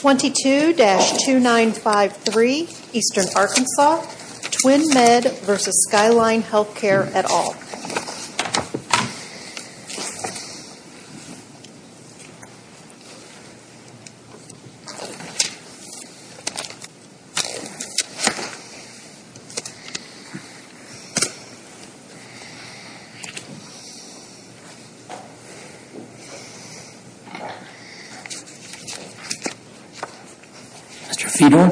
22-2953 Eastern Arkansas Twin Med v. Skyline Healthcare et al. Mr. Fedor.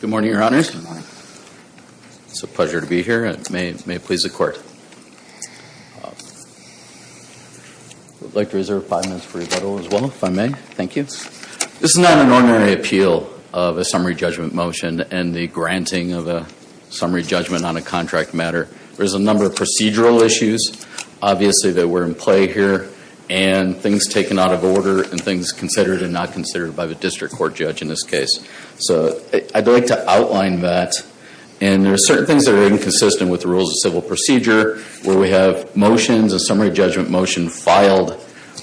Good morning, Your Honors. Good morning. It's a pleasure to be here. May it please the Court. I would like to reserve five minutes for rebuttal as well, if I may. Thank you. This is not an ordinary appeal of a summary judgment motion and the granting of a summary judgment on a contract matter. There's a number of procedural issues, obviously, that were in play here, and things taken out of order, and things considered and not considered by the district court judge in this case. So I'd like to outline that. And there are certain things that are inconsistent with the rules of civil procedure, where we have motions, a summary judgment motion, filed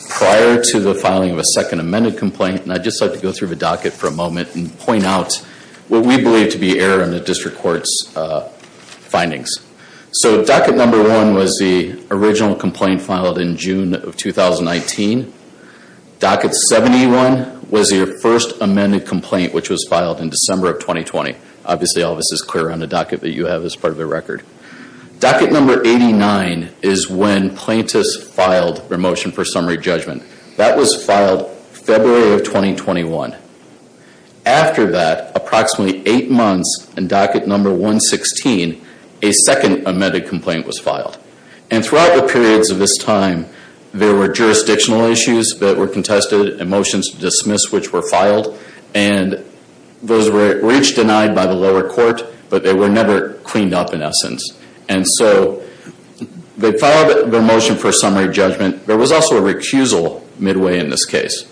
prior to the filing of a second amended complaint. And I'd just like to go through the docket for a moment and point out what we believe to be error in the district court's findings. So docket number one was the original complaint filed in June of 2019. Docket 71 was your first amended complaint, which was filed in December of 2020. Obviously, all of this is clear on the docket that you have as part of the record. Docket number 89 is when plaintiffs filed their motion for summary judgment. That was filed February of 2021. After that, approximately eight months in docket number 116, a second amended complaint was filed. And throughout the periods of this time, there were jurisdictional issues that were contested and motions dismissed, which were filed. And those were each denied by the lower court, but they were never cleaned up in essence. And so they filed their motion for summary judgment. There was also a recusal midway in this case,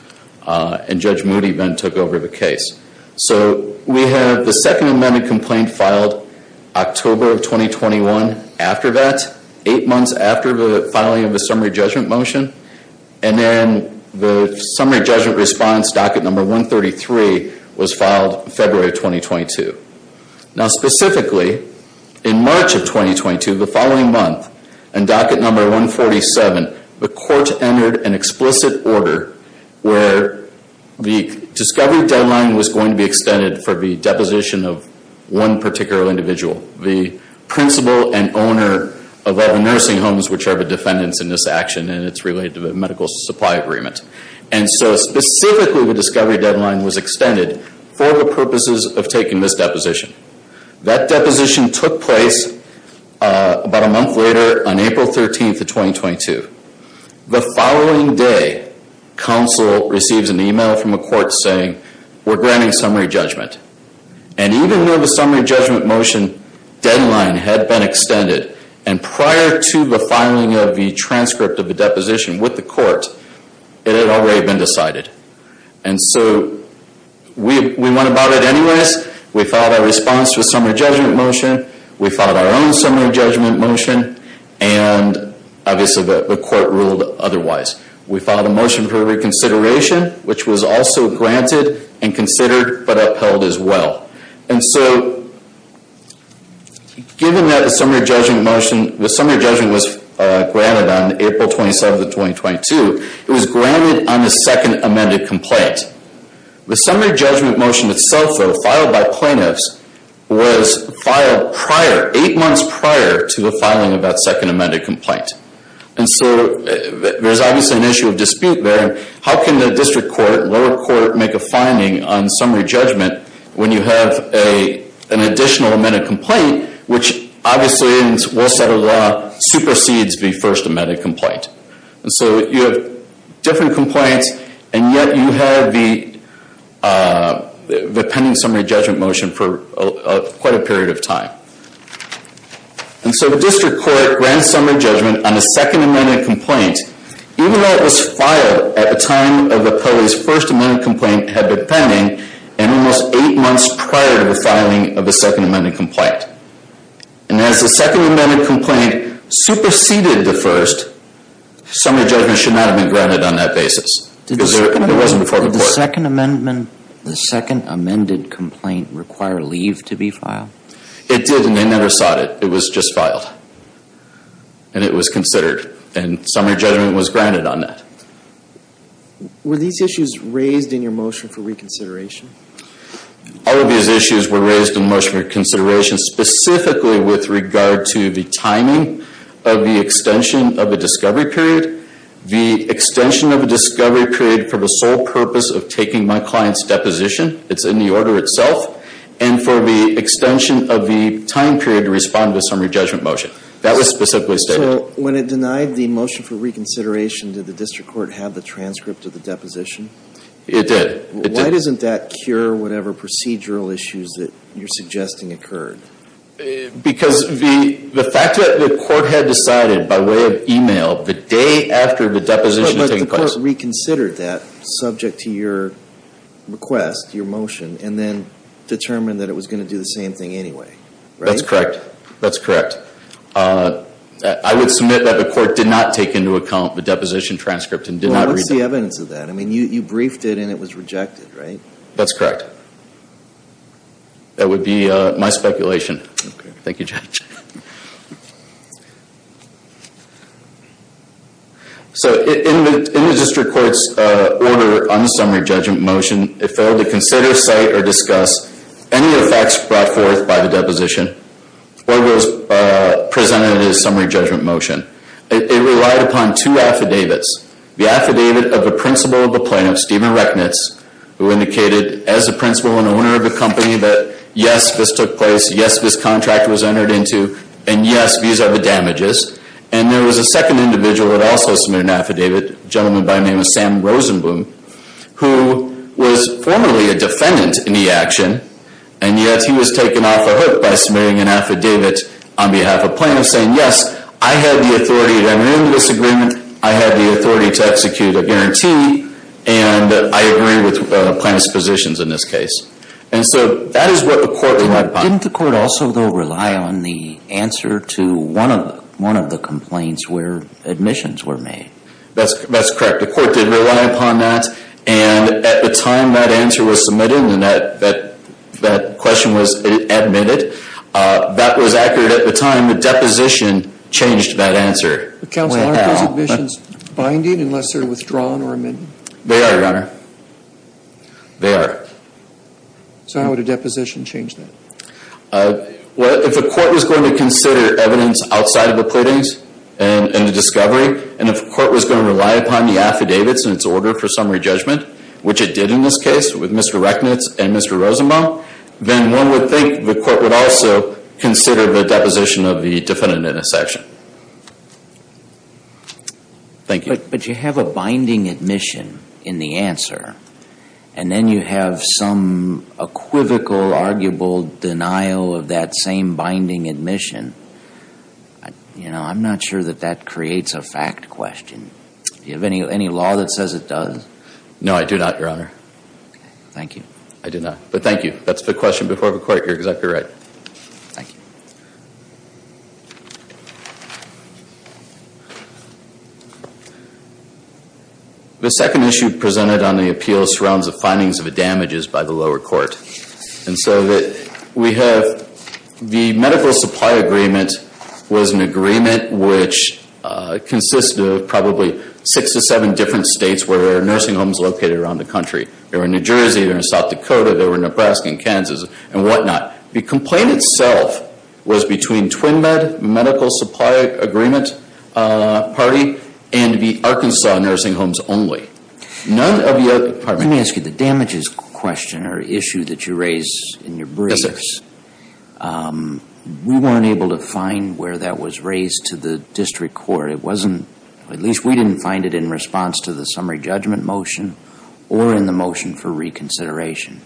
and Judge Moody then took over the case. So we have the second amended complaint filed October of 2021. After that, eight months after the filing of the summary judgment motion, and then the summary judgment response docket number 133 was filed February of 2022. Now specifically, in March of 2022, the following month, in docket number 147, the court entered an explicit order where the discovery deadline was going to be extended for the deposition of one particular individual, the principal and owner of all the nursing homes, which are the defendants in this action, and it's related to the medical supply agreement. And so specifically, the discovery deadline was extended for the purposes of taking this deposition. That deposition took place about a month later on April 13th of 2022. The following day, counsel receives an email from a court saying, we're granting summary judgment. And even though the summary judgment motion deadline had been extended, and prior to the filing of the transcript of the deposition with the court, it had already been decided. And so we went about it anyways. We filed a response to a summary judgment motion. We filed our own summary judgment motion, and obviously the court ruled otherwise. We filed a motion for reconsideration, which was also granted and considered but upheld as well. And so given that the summary judgment motion, the summary judgment was granted on April 27th of 2022, it was granted on the second amended complaint. The summary judgment motion itself, though, filed by plaintiffs, was filed prior, eight months prior to the filing of that second amended complaint. And so there's obviously an issue of dispute there. How can the district court, lower court, make a finding on summary judgment when you have an additional amended complaint, which obviously in Will Sutter law, supersedes the first amended complaint? And so you have different complaints, and yet you have the pending summary judgment motion for quite a period of time. And so the district court grants summary judgment on the second amended complaint, even though it was filed at the time of the police first amended complaint had been pending, and it was eight months prior to the filing of the second amended complaint. And as the second amended complaint superseded the first, summary judgment should not have been granted on that basis. It wasn't before the court. Did the second amended complaint require leave to be filed? It did, and they never sought it. It was just filed, and it was considered. And summary judgment was granted on that. Were these issues raised in your motion for reconsideration? All of these issues were raised in the motion for reconsideration, specifically with regard to the timing of the extension of the discovery period, the extension of the discovery period for the sole purpose of taking my client's deposition, it's in the order itself, and for the extension of the time period to respond to the summary judgment motion. That was specifically stated. So when it denied the motion for reconsideration, did the district court have the transcript of the deposition? It did. Why doesn't that cure whatever procedural issues that you're suggesting occurred? Because the fact that the court had decided by way of e-mail the day after the deposition was taking place. But the court reconsidered that subject to your request, your motion, and then determined that it was going to do the same thing anyway, right? That's correct. That's correct. I would submit that the court did not take into account the deposition transcript and did not review it. Well, what's the evidence of that? I mean, you briefed it and it was rejected, right? That's correct. That would be my speculation. Okay. Thank you, Judge. So in the district court's order on the summary judgment motion, it failed to consider, cite, or discuss any of the facts brought forth by the deposition or was presented in a summary judgment motion. It relied upon two affidavits. The affidavit of the principal of the plaintiff, Stephen Rechnitz, who indicated as the principal and owner of the company that, yes, this took place, yes, this contract was entered into, and, yes, these are the damages. And there was a second individual that also submitted an affidavit, a gentleman by the name of Sam Rosenblum, who was formerly a defendant in the action, and yet he was taken off the hook by submitting an affidavit on behalf of plaintiffs saying, yes, I have the authority to enter into this agreement, I have the authority to execute a guarantee, and I agree with plaintiff's positions in this case. And so that is what the court relied upon. Didn't the court also, though, rely on the answer to one of the complaints where admissions were made? That's correct. The court did rely upon that, and at the time that answer was submitted and that question was admitted, that was accurate at the time the deposition changed that answer. Counsel, aren't those admissions binding unless they're withdrawn or amended? They are, Your Honor. They are. So how would a deposition change that? Well, if the court was going to consider evidence outside of the pleadings and the discovery, and if the court was going to rely upon the affidavits and its order for summary judgment, which it did in this case with Mr. Rechnitz and Mr. Rosenblum, then one would think the court would also consider the deposition of the defendant in this action. Thank you. But you have a binding admission in the answer, and then you have some equivocal, arguable denial of that same binding admission. You know, I'm not sure that that creates a fact question. Do you have any law that says it does? No, I do not, Your Honor. Thank you. I do not, but thank you. That's the question before the court. You're exactly right. Thank you. The second issue presented on the appeal surrounds the findings of damages by the lower court. And so we have the medical supply agreement was an agreement which consists of probably six to seven different states where there are nursing homes located around the country. They were in New Jersey. They were in South Dakota. They were in Nebraska and Kansas and whatnot. The complaint itself was between TwinMed Medical Supply Agreement Party and the Arkansas Nursing Homes only. None of the other departments Let me ask you, the damages question or issue that you raised in your briefs, we weren't able to find where that was raised to the district court. It wasn't, at least we didn't find it in response to the summary judgment motion or in the motion for reconsideration.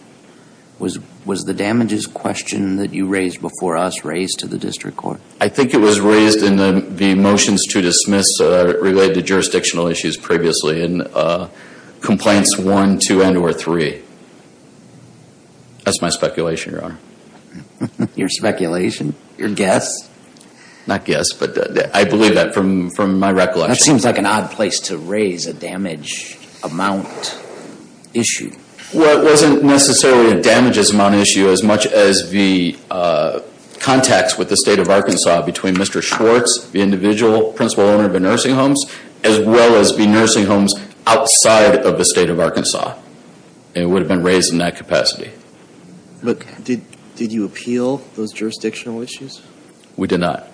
Was the damages question that you raised before us raised to the district court? I think it was raised in the motions to dismiss related to jurisdictional issues previously. Complaints one, two, and or three. That's my speculation, Your Honor. Your speculation? Your guess? Not guess, but I believe that from my recollection. That seems like an odd place to raise a damage amount issue. Well, it wasn't necessarily a damages amount issue as much as the contacts with the state of Arkansas between Mr. Schwartz, the individual principal owner of the nursing homes, as well as the nursing homes outside of the state of Arkansas. It would have been raised in that capacity. But did you appeal those jurisdictional issues? We did not.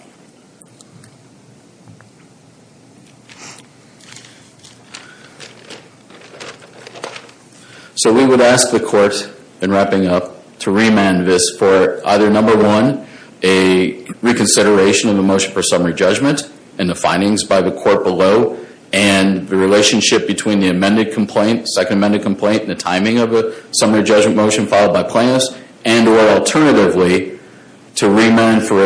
So we would ask the court in wrapping up to remand this for either number one, a reconsideration of the motion for summary judgment and the findings by the court below, and the relationship between the amended complaint, second amended complaint, and the timing of the summary judgment motion followed by plaintiffs, and or alternatively to remand for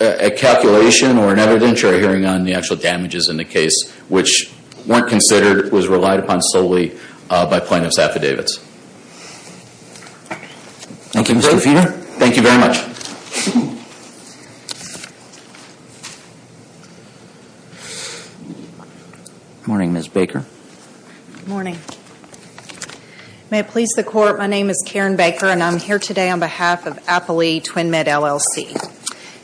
a calculation or an evidentiary hearing on the actual damages in the case, which weren't considered, was relied upon solely by plaintiffs' affidavits. Thank you, Mr. Feeder. Thank you very much. Good morning, Ms. Baker. Good morning. May it please the court, my name is Karen Baker, and I'm here today on behalf of Appali Twin Med LLC.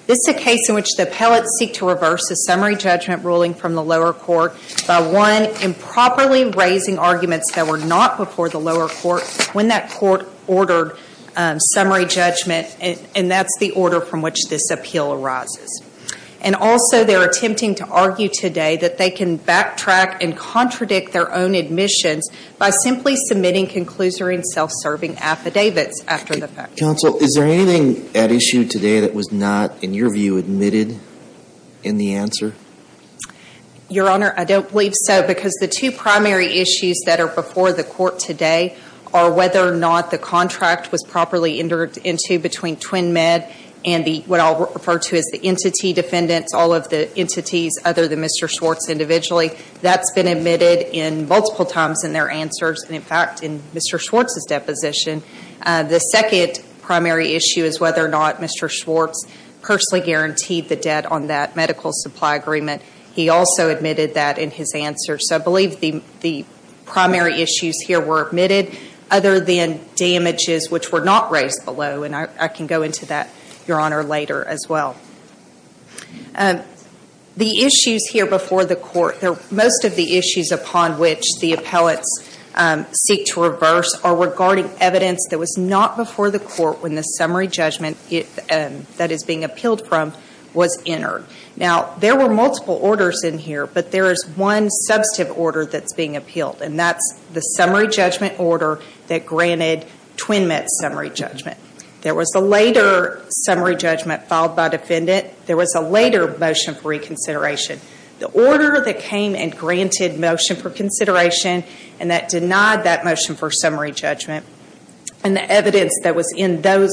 This is a case in which the appellate seek to reverse a summary judgment ruling from the lower court by, one, improperly raising arguments that were not before the lower court when that court ordered summary judgment, and that's the order from which this appeal arises. And also they're attempting to argue today that they can backtrack and contradict their own admissions by simply submitting conclusory and self-serving affidavits after the fact. Counsel, is there anything at issue today that was not, in your view, admitted in the answer? Your Honor, I don't believe so because the two primary issues that are before the court today are whether or not the contract was properly entered into between Twin Med and what I'll refer to as the entity defendants, all of the entities other than Mr. Schwartz individually. That's been admitted multiple times in their answers and, in fact, in Mr. Schwartz's deposition. The second primary issue is whether or not Mr. Schwartz personally guaranteed the debt on that medical supply agreement. He also admitted that in his answer. So I believe the primary issues here were admitted other than damages which were not raised below, and I can go into that, Your Honor, later as well. The issues here before the court, most of the issues upon which the appellates seek to reverse are regarding evidence that was not before the court when the summary judgment that is being appealed from was entered. Now, there were multiple orders in here, but there is one substantive order that's being appealed, and that's the summary judgment order that granted Twin Med's summary judgment. There was a later summary judgment filed by defendant. There was a later motion for reconsideration. The order that came and granted motion for consideration and that denied that motion for summary judgment and the evidence that was in those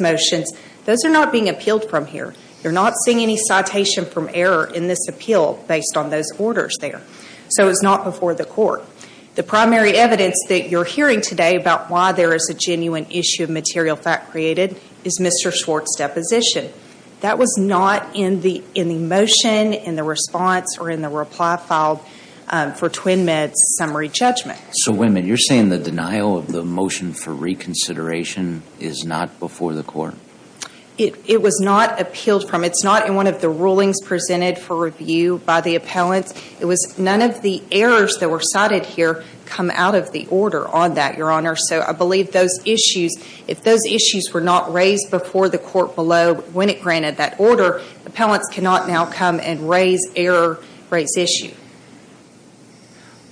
motions, those are not being appealed from here. You're not seeing any citation from error in this appeal based on those orders there. So it's not before the court. The primary evidence that you're hearing today about why there is a genuine issue of material fact created is Mr. Schwartz' deposition. That was not in the motion, in the response, or in the reply filed for Twin Med's summary judgment. So wait a minute. You're saying the denial of the motion for reconsideration is not before the court? It was not appealed from. It's not in one of the rulings presented for review by the appellants. It was none of the errors that were cited here come out of the order on that, Your Honor. So I believe those issues, if those issues were not raised before the court below when it granted that order, appellants cannot now come and raise error, raise issue.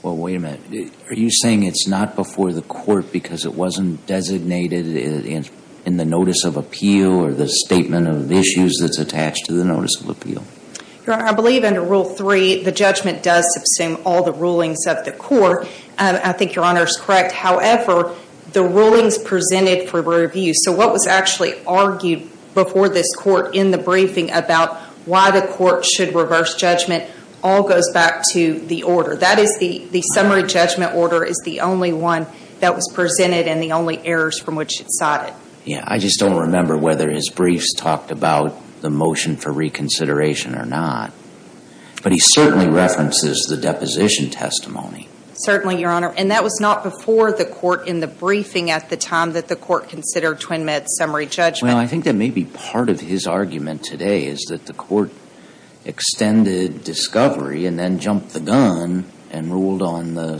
Well, wait a minute. Are you saying it's not before the court because it wasn't designated in the notice of appeal or the statement of issues that's attached to the notice of appeal? Your Honor, I believe under Rule 3 the judgment does subsume all the rulings of the court. I think Your Honor is correct. However, the rulings presented for review, so what was actually argued before this court in the briefing about why the court should reverse judgment all goes back to the order. That is the summary judgment order is the only one that was presented and the only errors from which it's cited. Yeah. I just don't remember whether his briefs talked about the motion for reconsideration or not. But he certainly references the deposition testimony. Certainly, Your Honor. And that was not before the court in the briefing at the time that the court considered Twin Med's summary judgment. Well, I think that may be part of his argument today is that the court extended discovery and then jumped the gun and ruled on the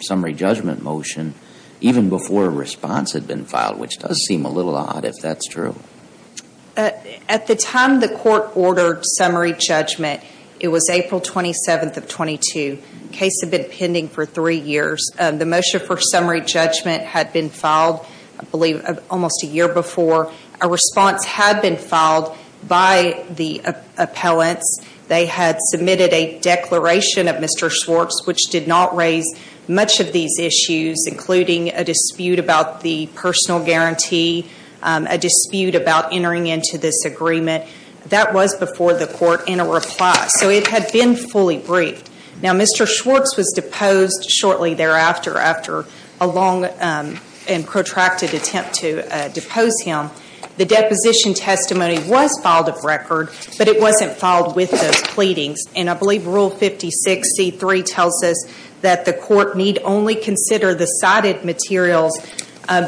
summary judgment motion even before a response had been filed, which does seem a little odd if that's true. At the time the court ordered summary judgment, it was April 27th of 22. The case had been pending for three years. The motion for summary judgment had been filed, I believe, almost a year before. A response had been filed by the appellants. They had submitted a declaration of Mr. Schwartz, which did not raise much of these issues, including a dispute about the personal guarantee, a dispute about entering into this agreement. That was before the court in a reply. So it had been fully briefed. Now, Mr. Schwartz was deposed shortly thereafter after a long and protracted attempt to depose him. The deposition testimony was filed of record, but it wasn't filed with those pleadings. And I believe Rule 5063 tells us that the court need only consider the cited materials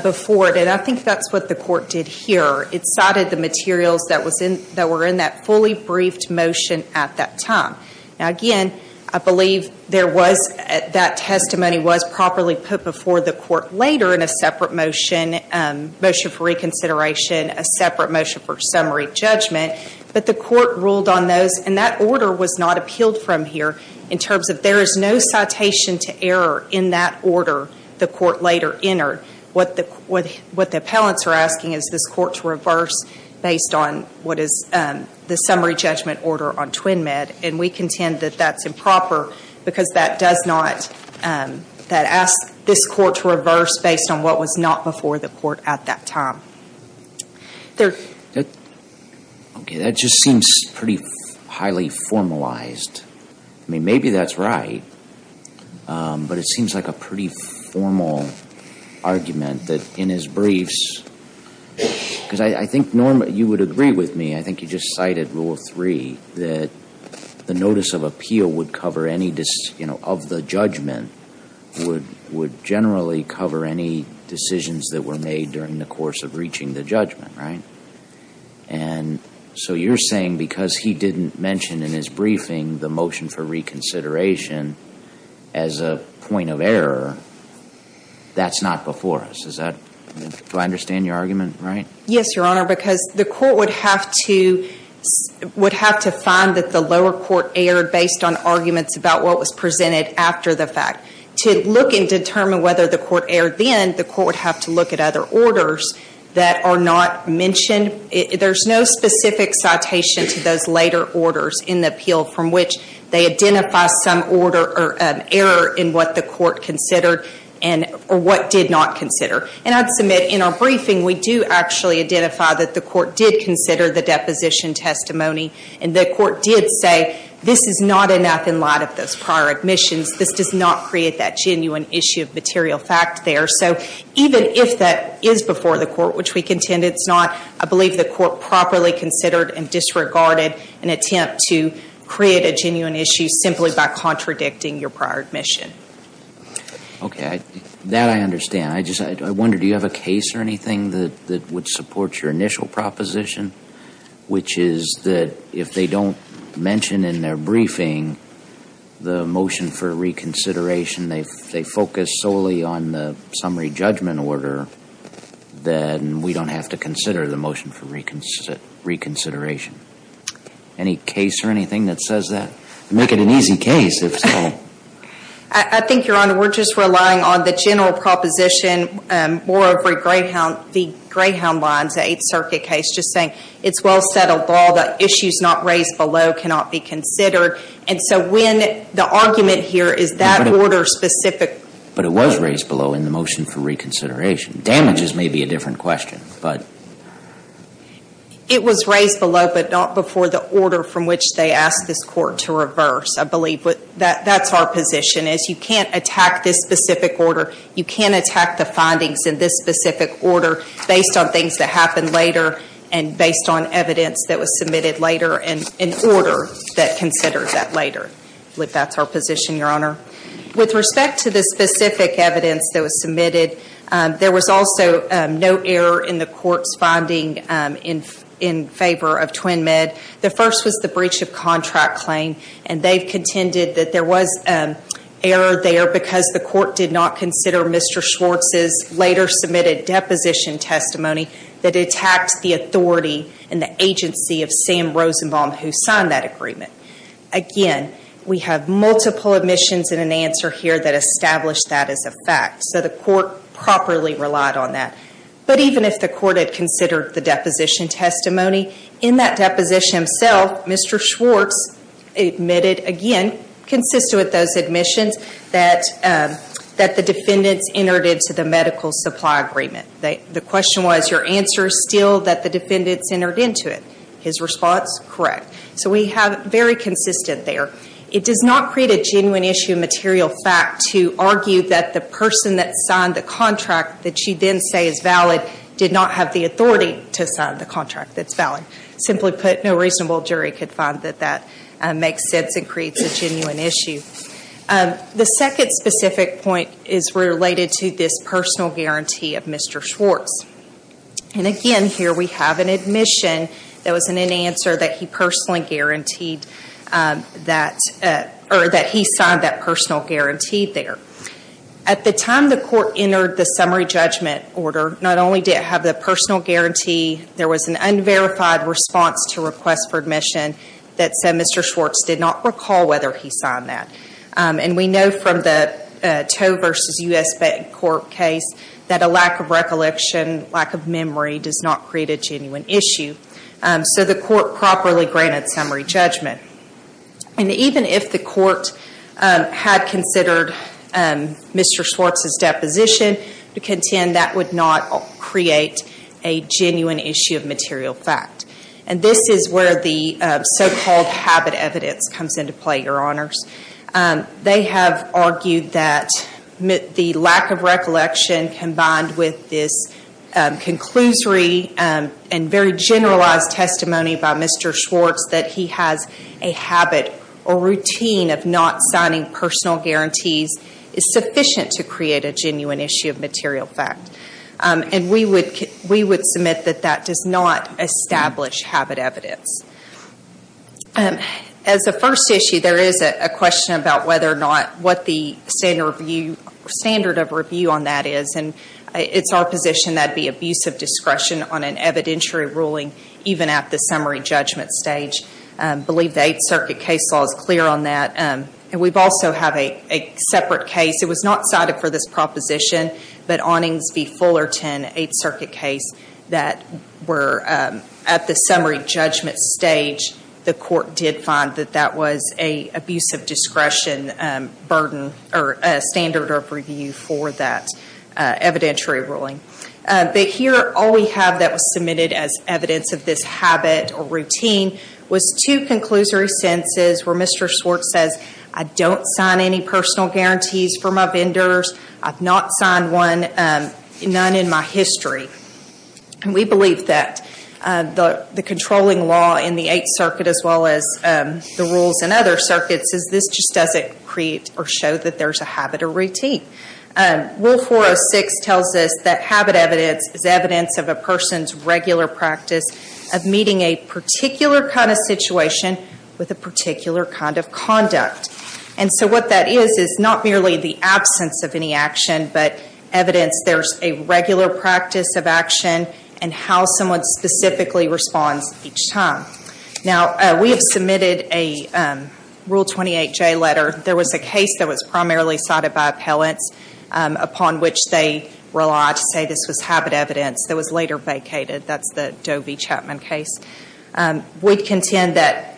before it. And I think that's what the court did here. It cited the materials that were in that fully briefed motion at that time. Now, again, I believe that testimony was properly put before the court later in a separate motion, a motion for reconsideration, a separate motion for summary judgment. But the court ruled on those, and that order was not appealed from here, in terms of there is no citation to error in that order the court later entered. What the appellants are asking is this court to reverse based on what is the summary judgment order on TwinMed. And we contend that that's improper because that does not ask this court to reverse based on what was not before the court at that time. That just seems pretty highly formalized. I mean, maybe that's right, but it seems like a pretty formal argument that in his briefs, Because I think Norm, you would agree with me, I think you just cited Rule 3, that the notice of appeal would cover any, you know, of the judgment, would generally cover any decisions that were made during the course of reaching the judgment, right? And so you're saying because he didn't mention in his briefing the motion for reconsideration as a point of error, that's not before us. Do I understand your argument right? Yes, Your Honor, because the court would have to find that the lower court erred based on arguments about what was presented after the fact. To look and determine whether the court erred then, the court would have to look at other orders that are not mentioned. There's no specific citation to those later orders in the appeal from which they identify some order or error in what the court considered, or what did not consider. And I'd submit in our briefing, we do actually identify that the court did consider the deposition testimony, and the court did say this is not enough in light of those prior admissions. This does not create that genuine issue of material fact there. So even if that is before the court, which we contend it's not, I believe the court properly considered and disregarded an attempt to create a genuine issue simply by contradicting your prior admission. Okay. That I understand. I wonder, do you have a case or anything that would support your initial proposition, which is that if they don't mention in their briefing the motion for reconsideration, they focus solely on the summary judgment order, then we don't have to consider the motion for reconsideration. Any case or anything that says that? Make it an easy case, if so. I think, Your Honor, we're just relying on the general proposition, more of the Greyhound lines, the Eighth Circuit case, just saying it's well settled law, the issues not raised below cannot be considered. And so when the argument here is that order specific. But it was raised below in the motion for reconsideration. Damages may be a different question, but. It was raised below, but not before the order from which they asked this court to reverse, I believe. But that's our position, is you can't attack this specific order. You can't attack the findings in this specific order based on things that happened later and based on evidence that was submitted later in order that considers that later. But that's our position, Your Honor. With respect to the specific evidence that was submitted, there was also no error in the court's finding in favor of TwinMed. The first was the breach of contract claim, and they contended that there was error there because the court did not consider Mr. Schwartz's later submitted deposition testimony that attacked the authority and the agency of Sam Rosenbaum who signed that agreement. Again, we have multiple omissions and an answer here that established that as a fact. So the court properly relied on that. But even if the court had considered the deposition testimony, in that deposition itself, Mr. Schwartz admitted again, consistent with those admissions, that the defendants entered into the medical supply agreement. The question was, your answer is still that the defendants entered into it. His response, correct. So we have very consistent there. It does not create a genuine issue of material fact to argue that the person that signed the contract that you then say is valid did not have the authority to sign the contract that's valid. Simply put, no reasonable jury could find that that makes sense and creates a genuine issue. The second specific point is related to this personal guarantee of Mr. Schwartz. Again, here we have an admission that was in an answer that he signed that personal guarantee there. At the time the court entered the summary judgment order, not only did it have the personal guarantee, there was an unverified response to request for admission that said Mr. Schwartz did not recall whether he signed that. We know from the Toe v. U.S. Court case that a lack of recollection, lack of memory, does not create a genuine issue. So the court properly granted summary judgment. Even if the court had considered Mr. Schwartz's deposition, we contend that would not create a genuine issue of material fact. And this is where the so-called habit evidence comes into play, Your Honors. They have argued that the lack of recollection combined with this conclusory and very generalized testimony by Mr. Schwartz that he has a habit or routine of not signing personal guarantees is sufficient to create a genuine issue of material fact. We would submit that that does not establish habit evidence. As a first issue, there is a question about what the standard of review on that is. It's our position that it would be abuse of discretion on an evidentiary ruling even at the summary judgment stage. I believe the Eighth Circuit case law is clear on that. We also have a separate case. It was not cited for this proposition, but Onnings v. Fullerton, Eighth Circuit case, that were at the summary judgment stage. The court did find that that was an abuse of discretion standard of review for that evidentiary ruling. But here, all we have that was submitted as evidence of this habit or routine was two conclusory sentences where Mr. Schwartz says, I don't sign any personal guarantees for my vendors. I've not signed one, none in my history. We believe that the controlling law in the Eighth Circuit as well as the rules in other circuits is this just doesn't create or show that there's a habit or routine. Rule 406 tells us that habit evidence is evidence of a person's regular practice of meeting a particular kind of situation with a particular kind of conduct. And so what that is is not merely the absence of any action, but evidence there's a regular practice of action and how someone specifically responds each time. Now, we have submitted a Rule 28J letter. There was a case that was primarily cited by appellants upon which they relied to say this was habit evidence that was later vacated. That's the Doe v. Chapman case. We contend that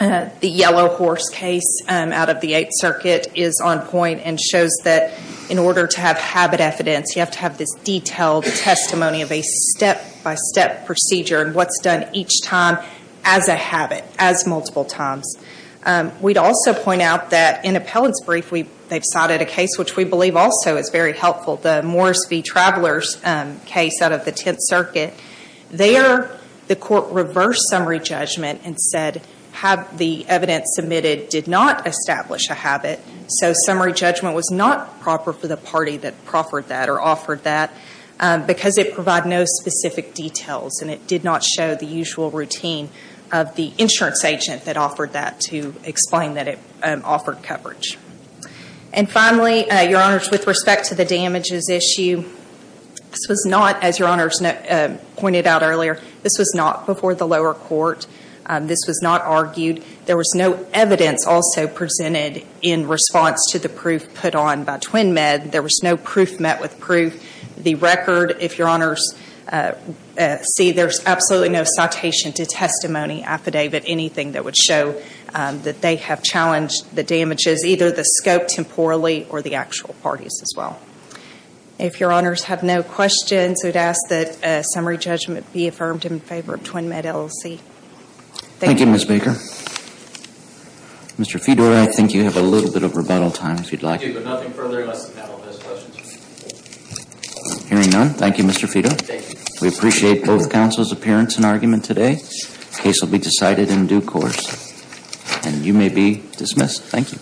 the Yellow Horse case out of the Eighth Circuit is on point and shows that in order to have habit evidence, you have to have this detailed testimony of a step-by-step procedure and what's done each time as a habit, as multiple times. We'd also point out that in appellant's brief, they've cited a case which we believe also is very helpful, the Morris v. Travelers case out of the Tenth Circuit. There, the court reversed summary judgment and said the evidence submitted did not establish a habit, so summary judgment was not proper for the party that proffered that or offered that because it provided no specific details and it did not show the usual routine of the insurance agent that offered that to explain that it offered coverage. And finally, Your Honors, with respect to the damages issue, this was not, as Your Honors pointed out earlier, this was not before the lower court. This was not argued. There was no evidence also presented in response to the proof put on by TwinMed. There was no proof met with proof. The record, if Your Honors see, there's absolutely no citation to testimony affidavit, anything that would show that they have challenged the damages, either the scope temporally or the actual parties as well. If Your Honors have no questions, I would ask that summary judgment be affirmed in favor of TwinMed LLC. Thank you. Thank you, Ms. Baker. Mr. Fedor, I think you have a little bit of rebuttal time, if you'd like. Thank you, but nothing further unless the panel has questions. Hearing none, thank you, Mr. Fedor. Thank you. We appreciate both counsel's appearance and argument today. The case will be decided in due course, and you may be dismissed. Thank you.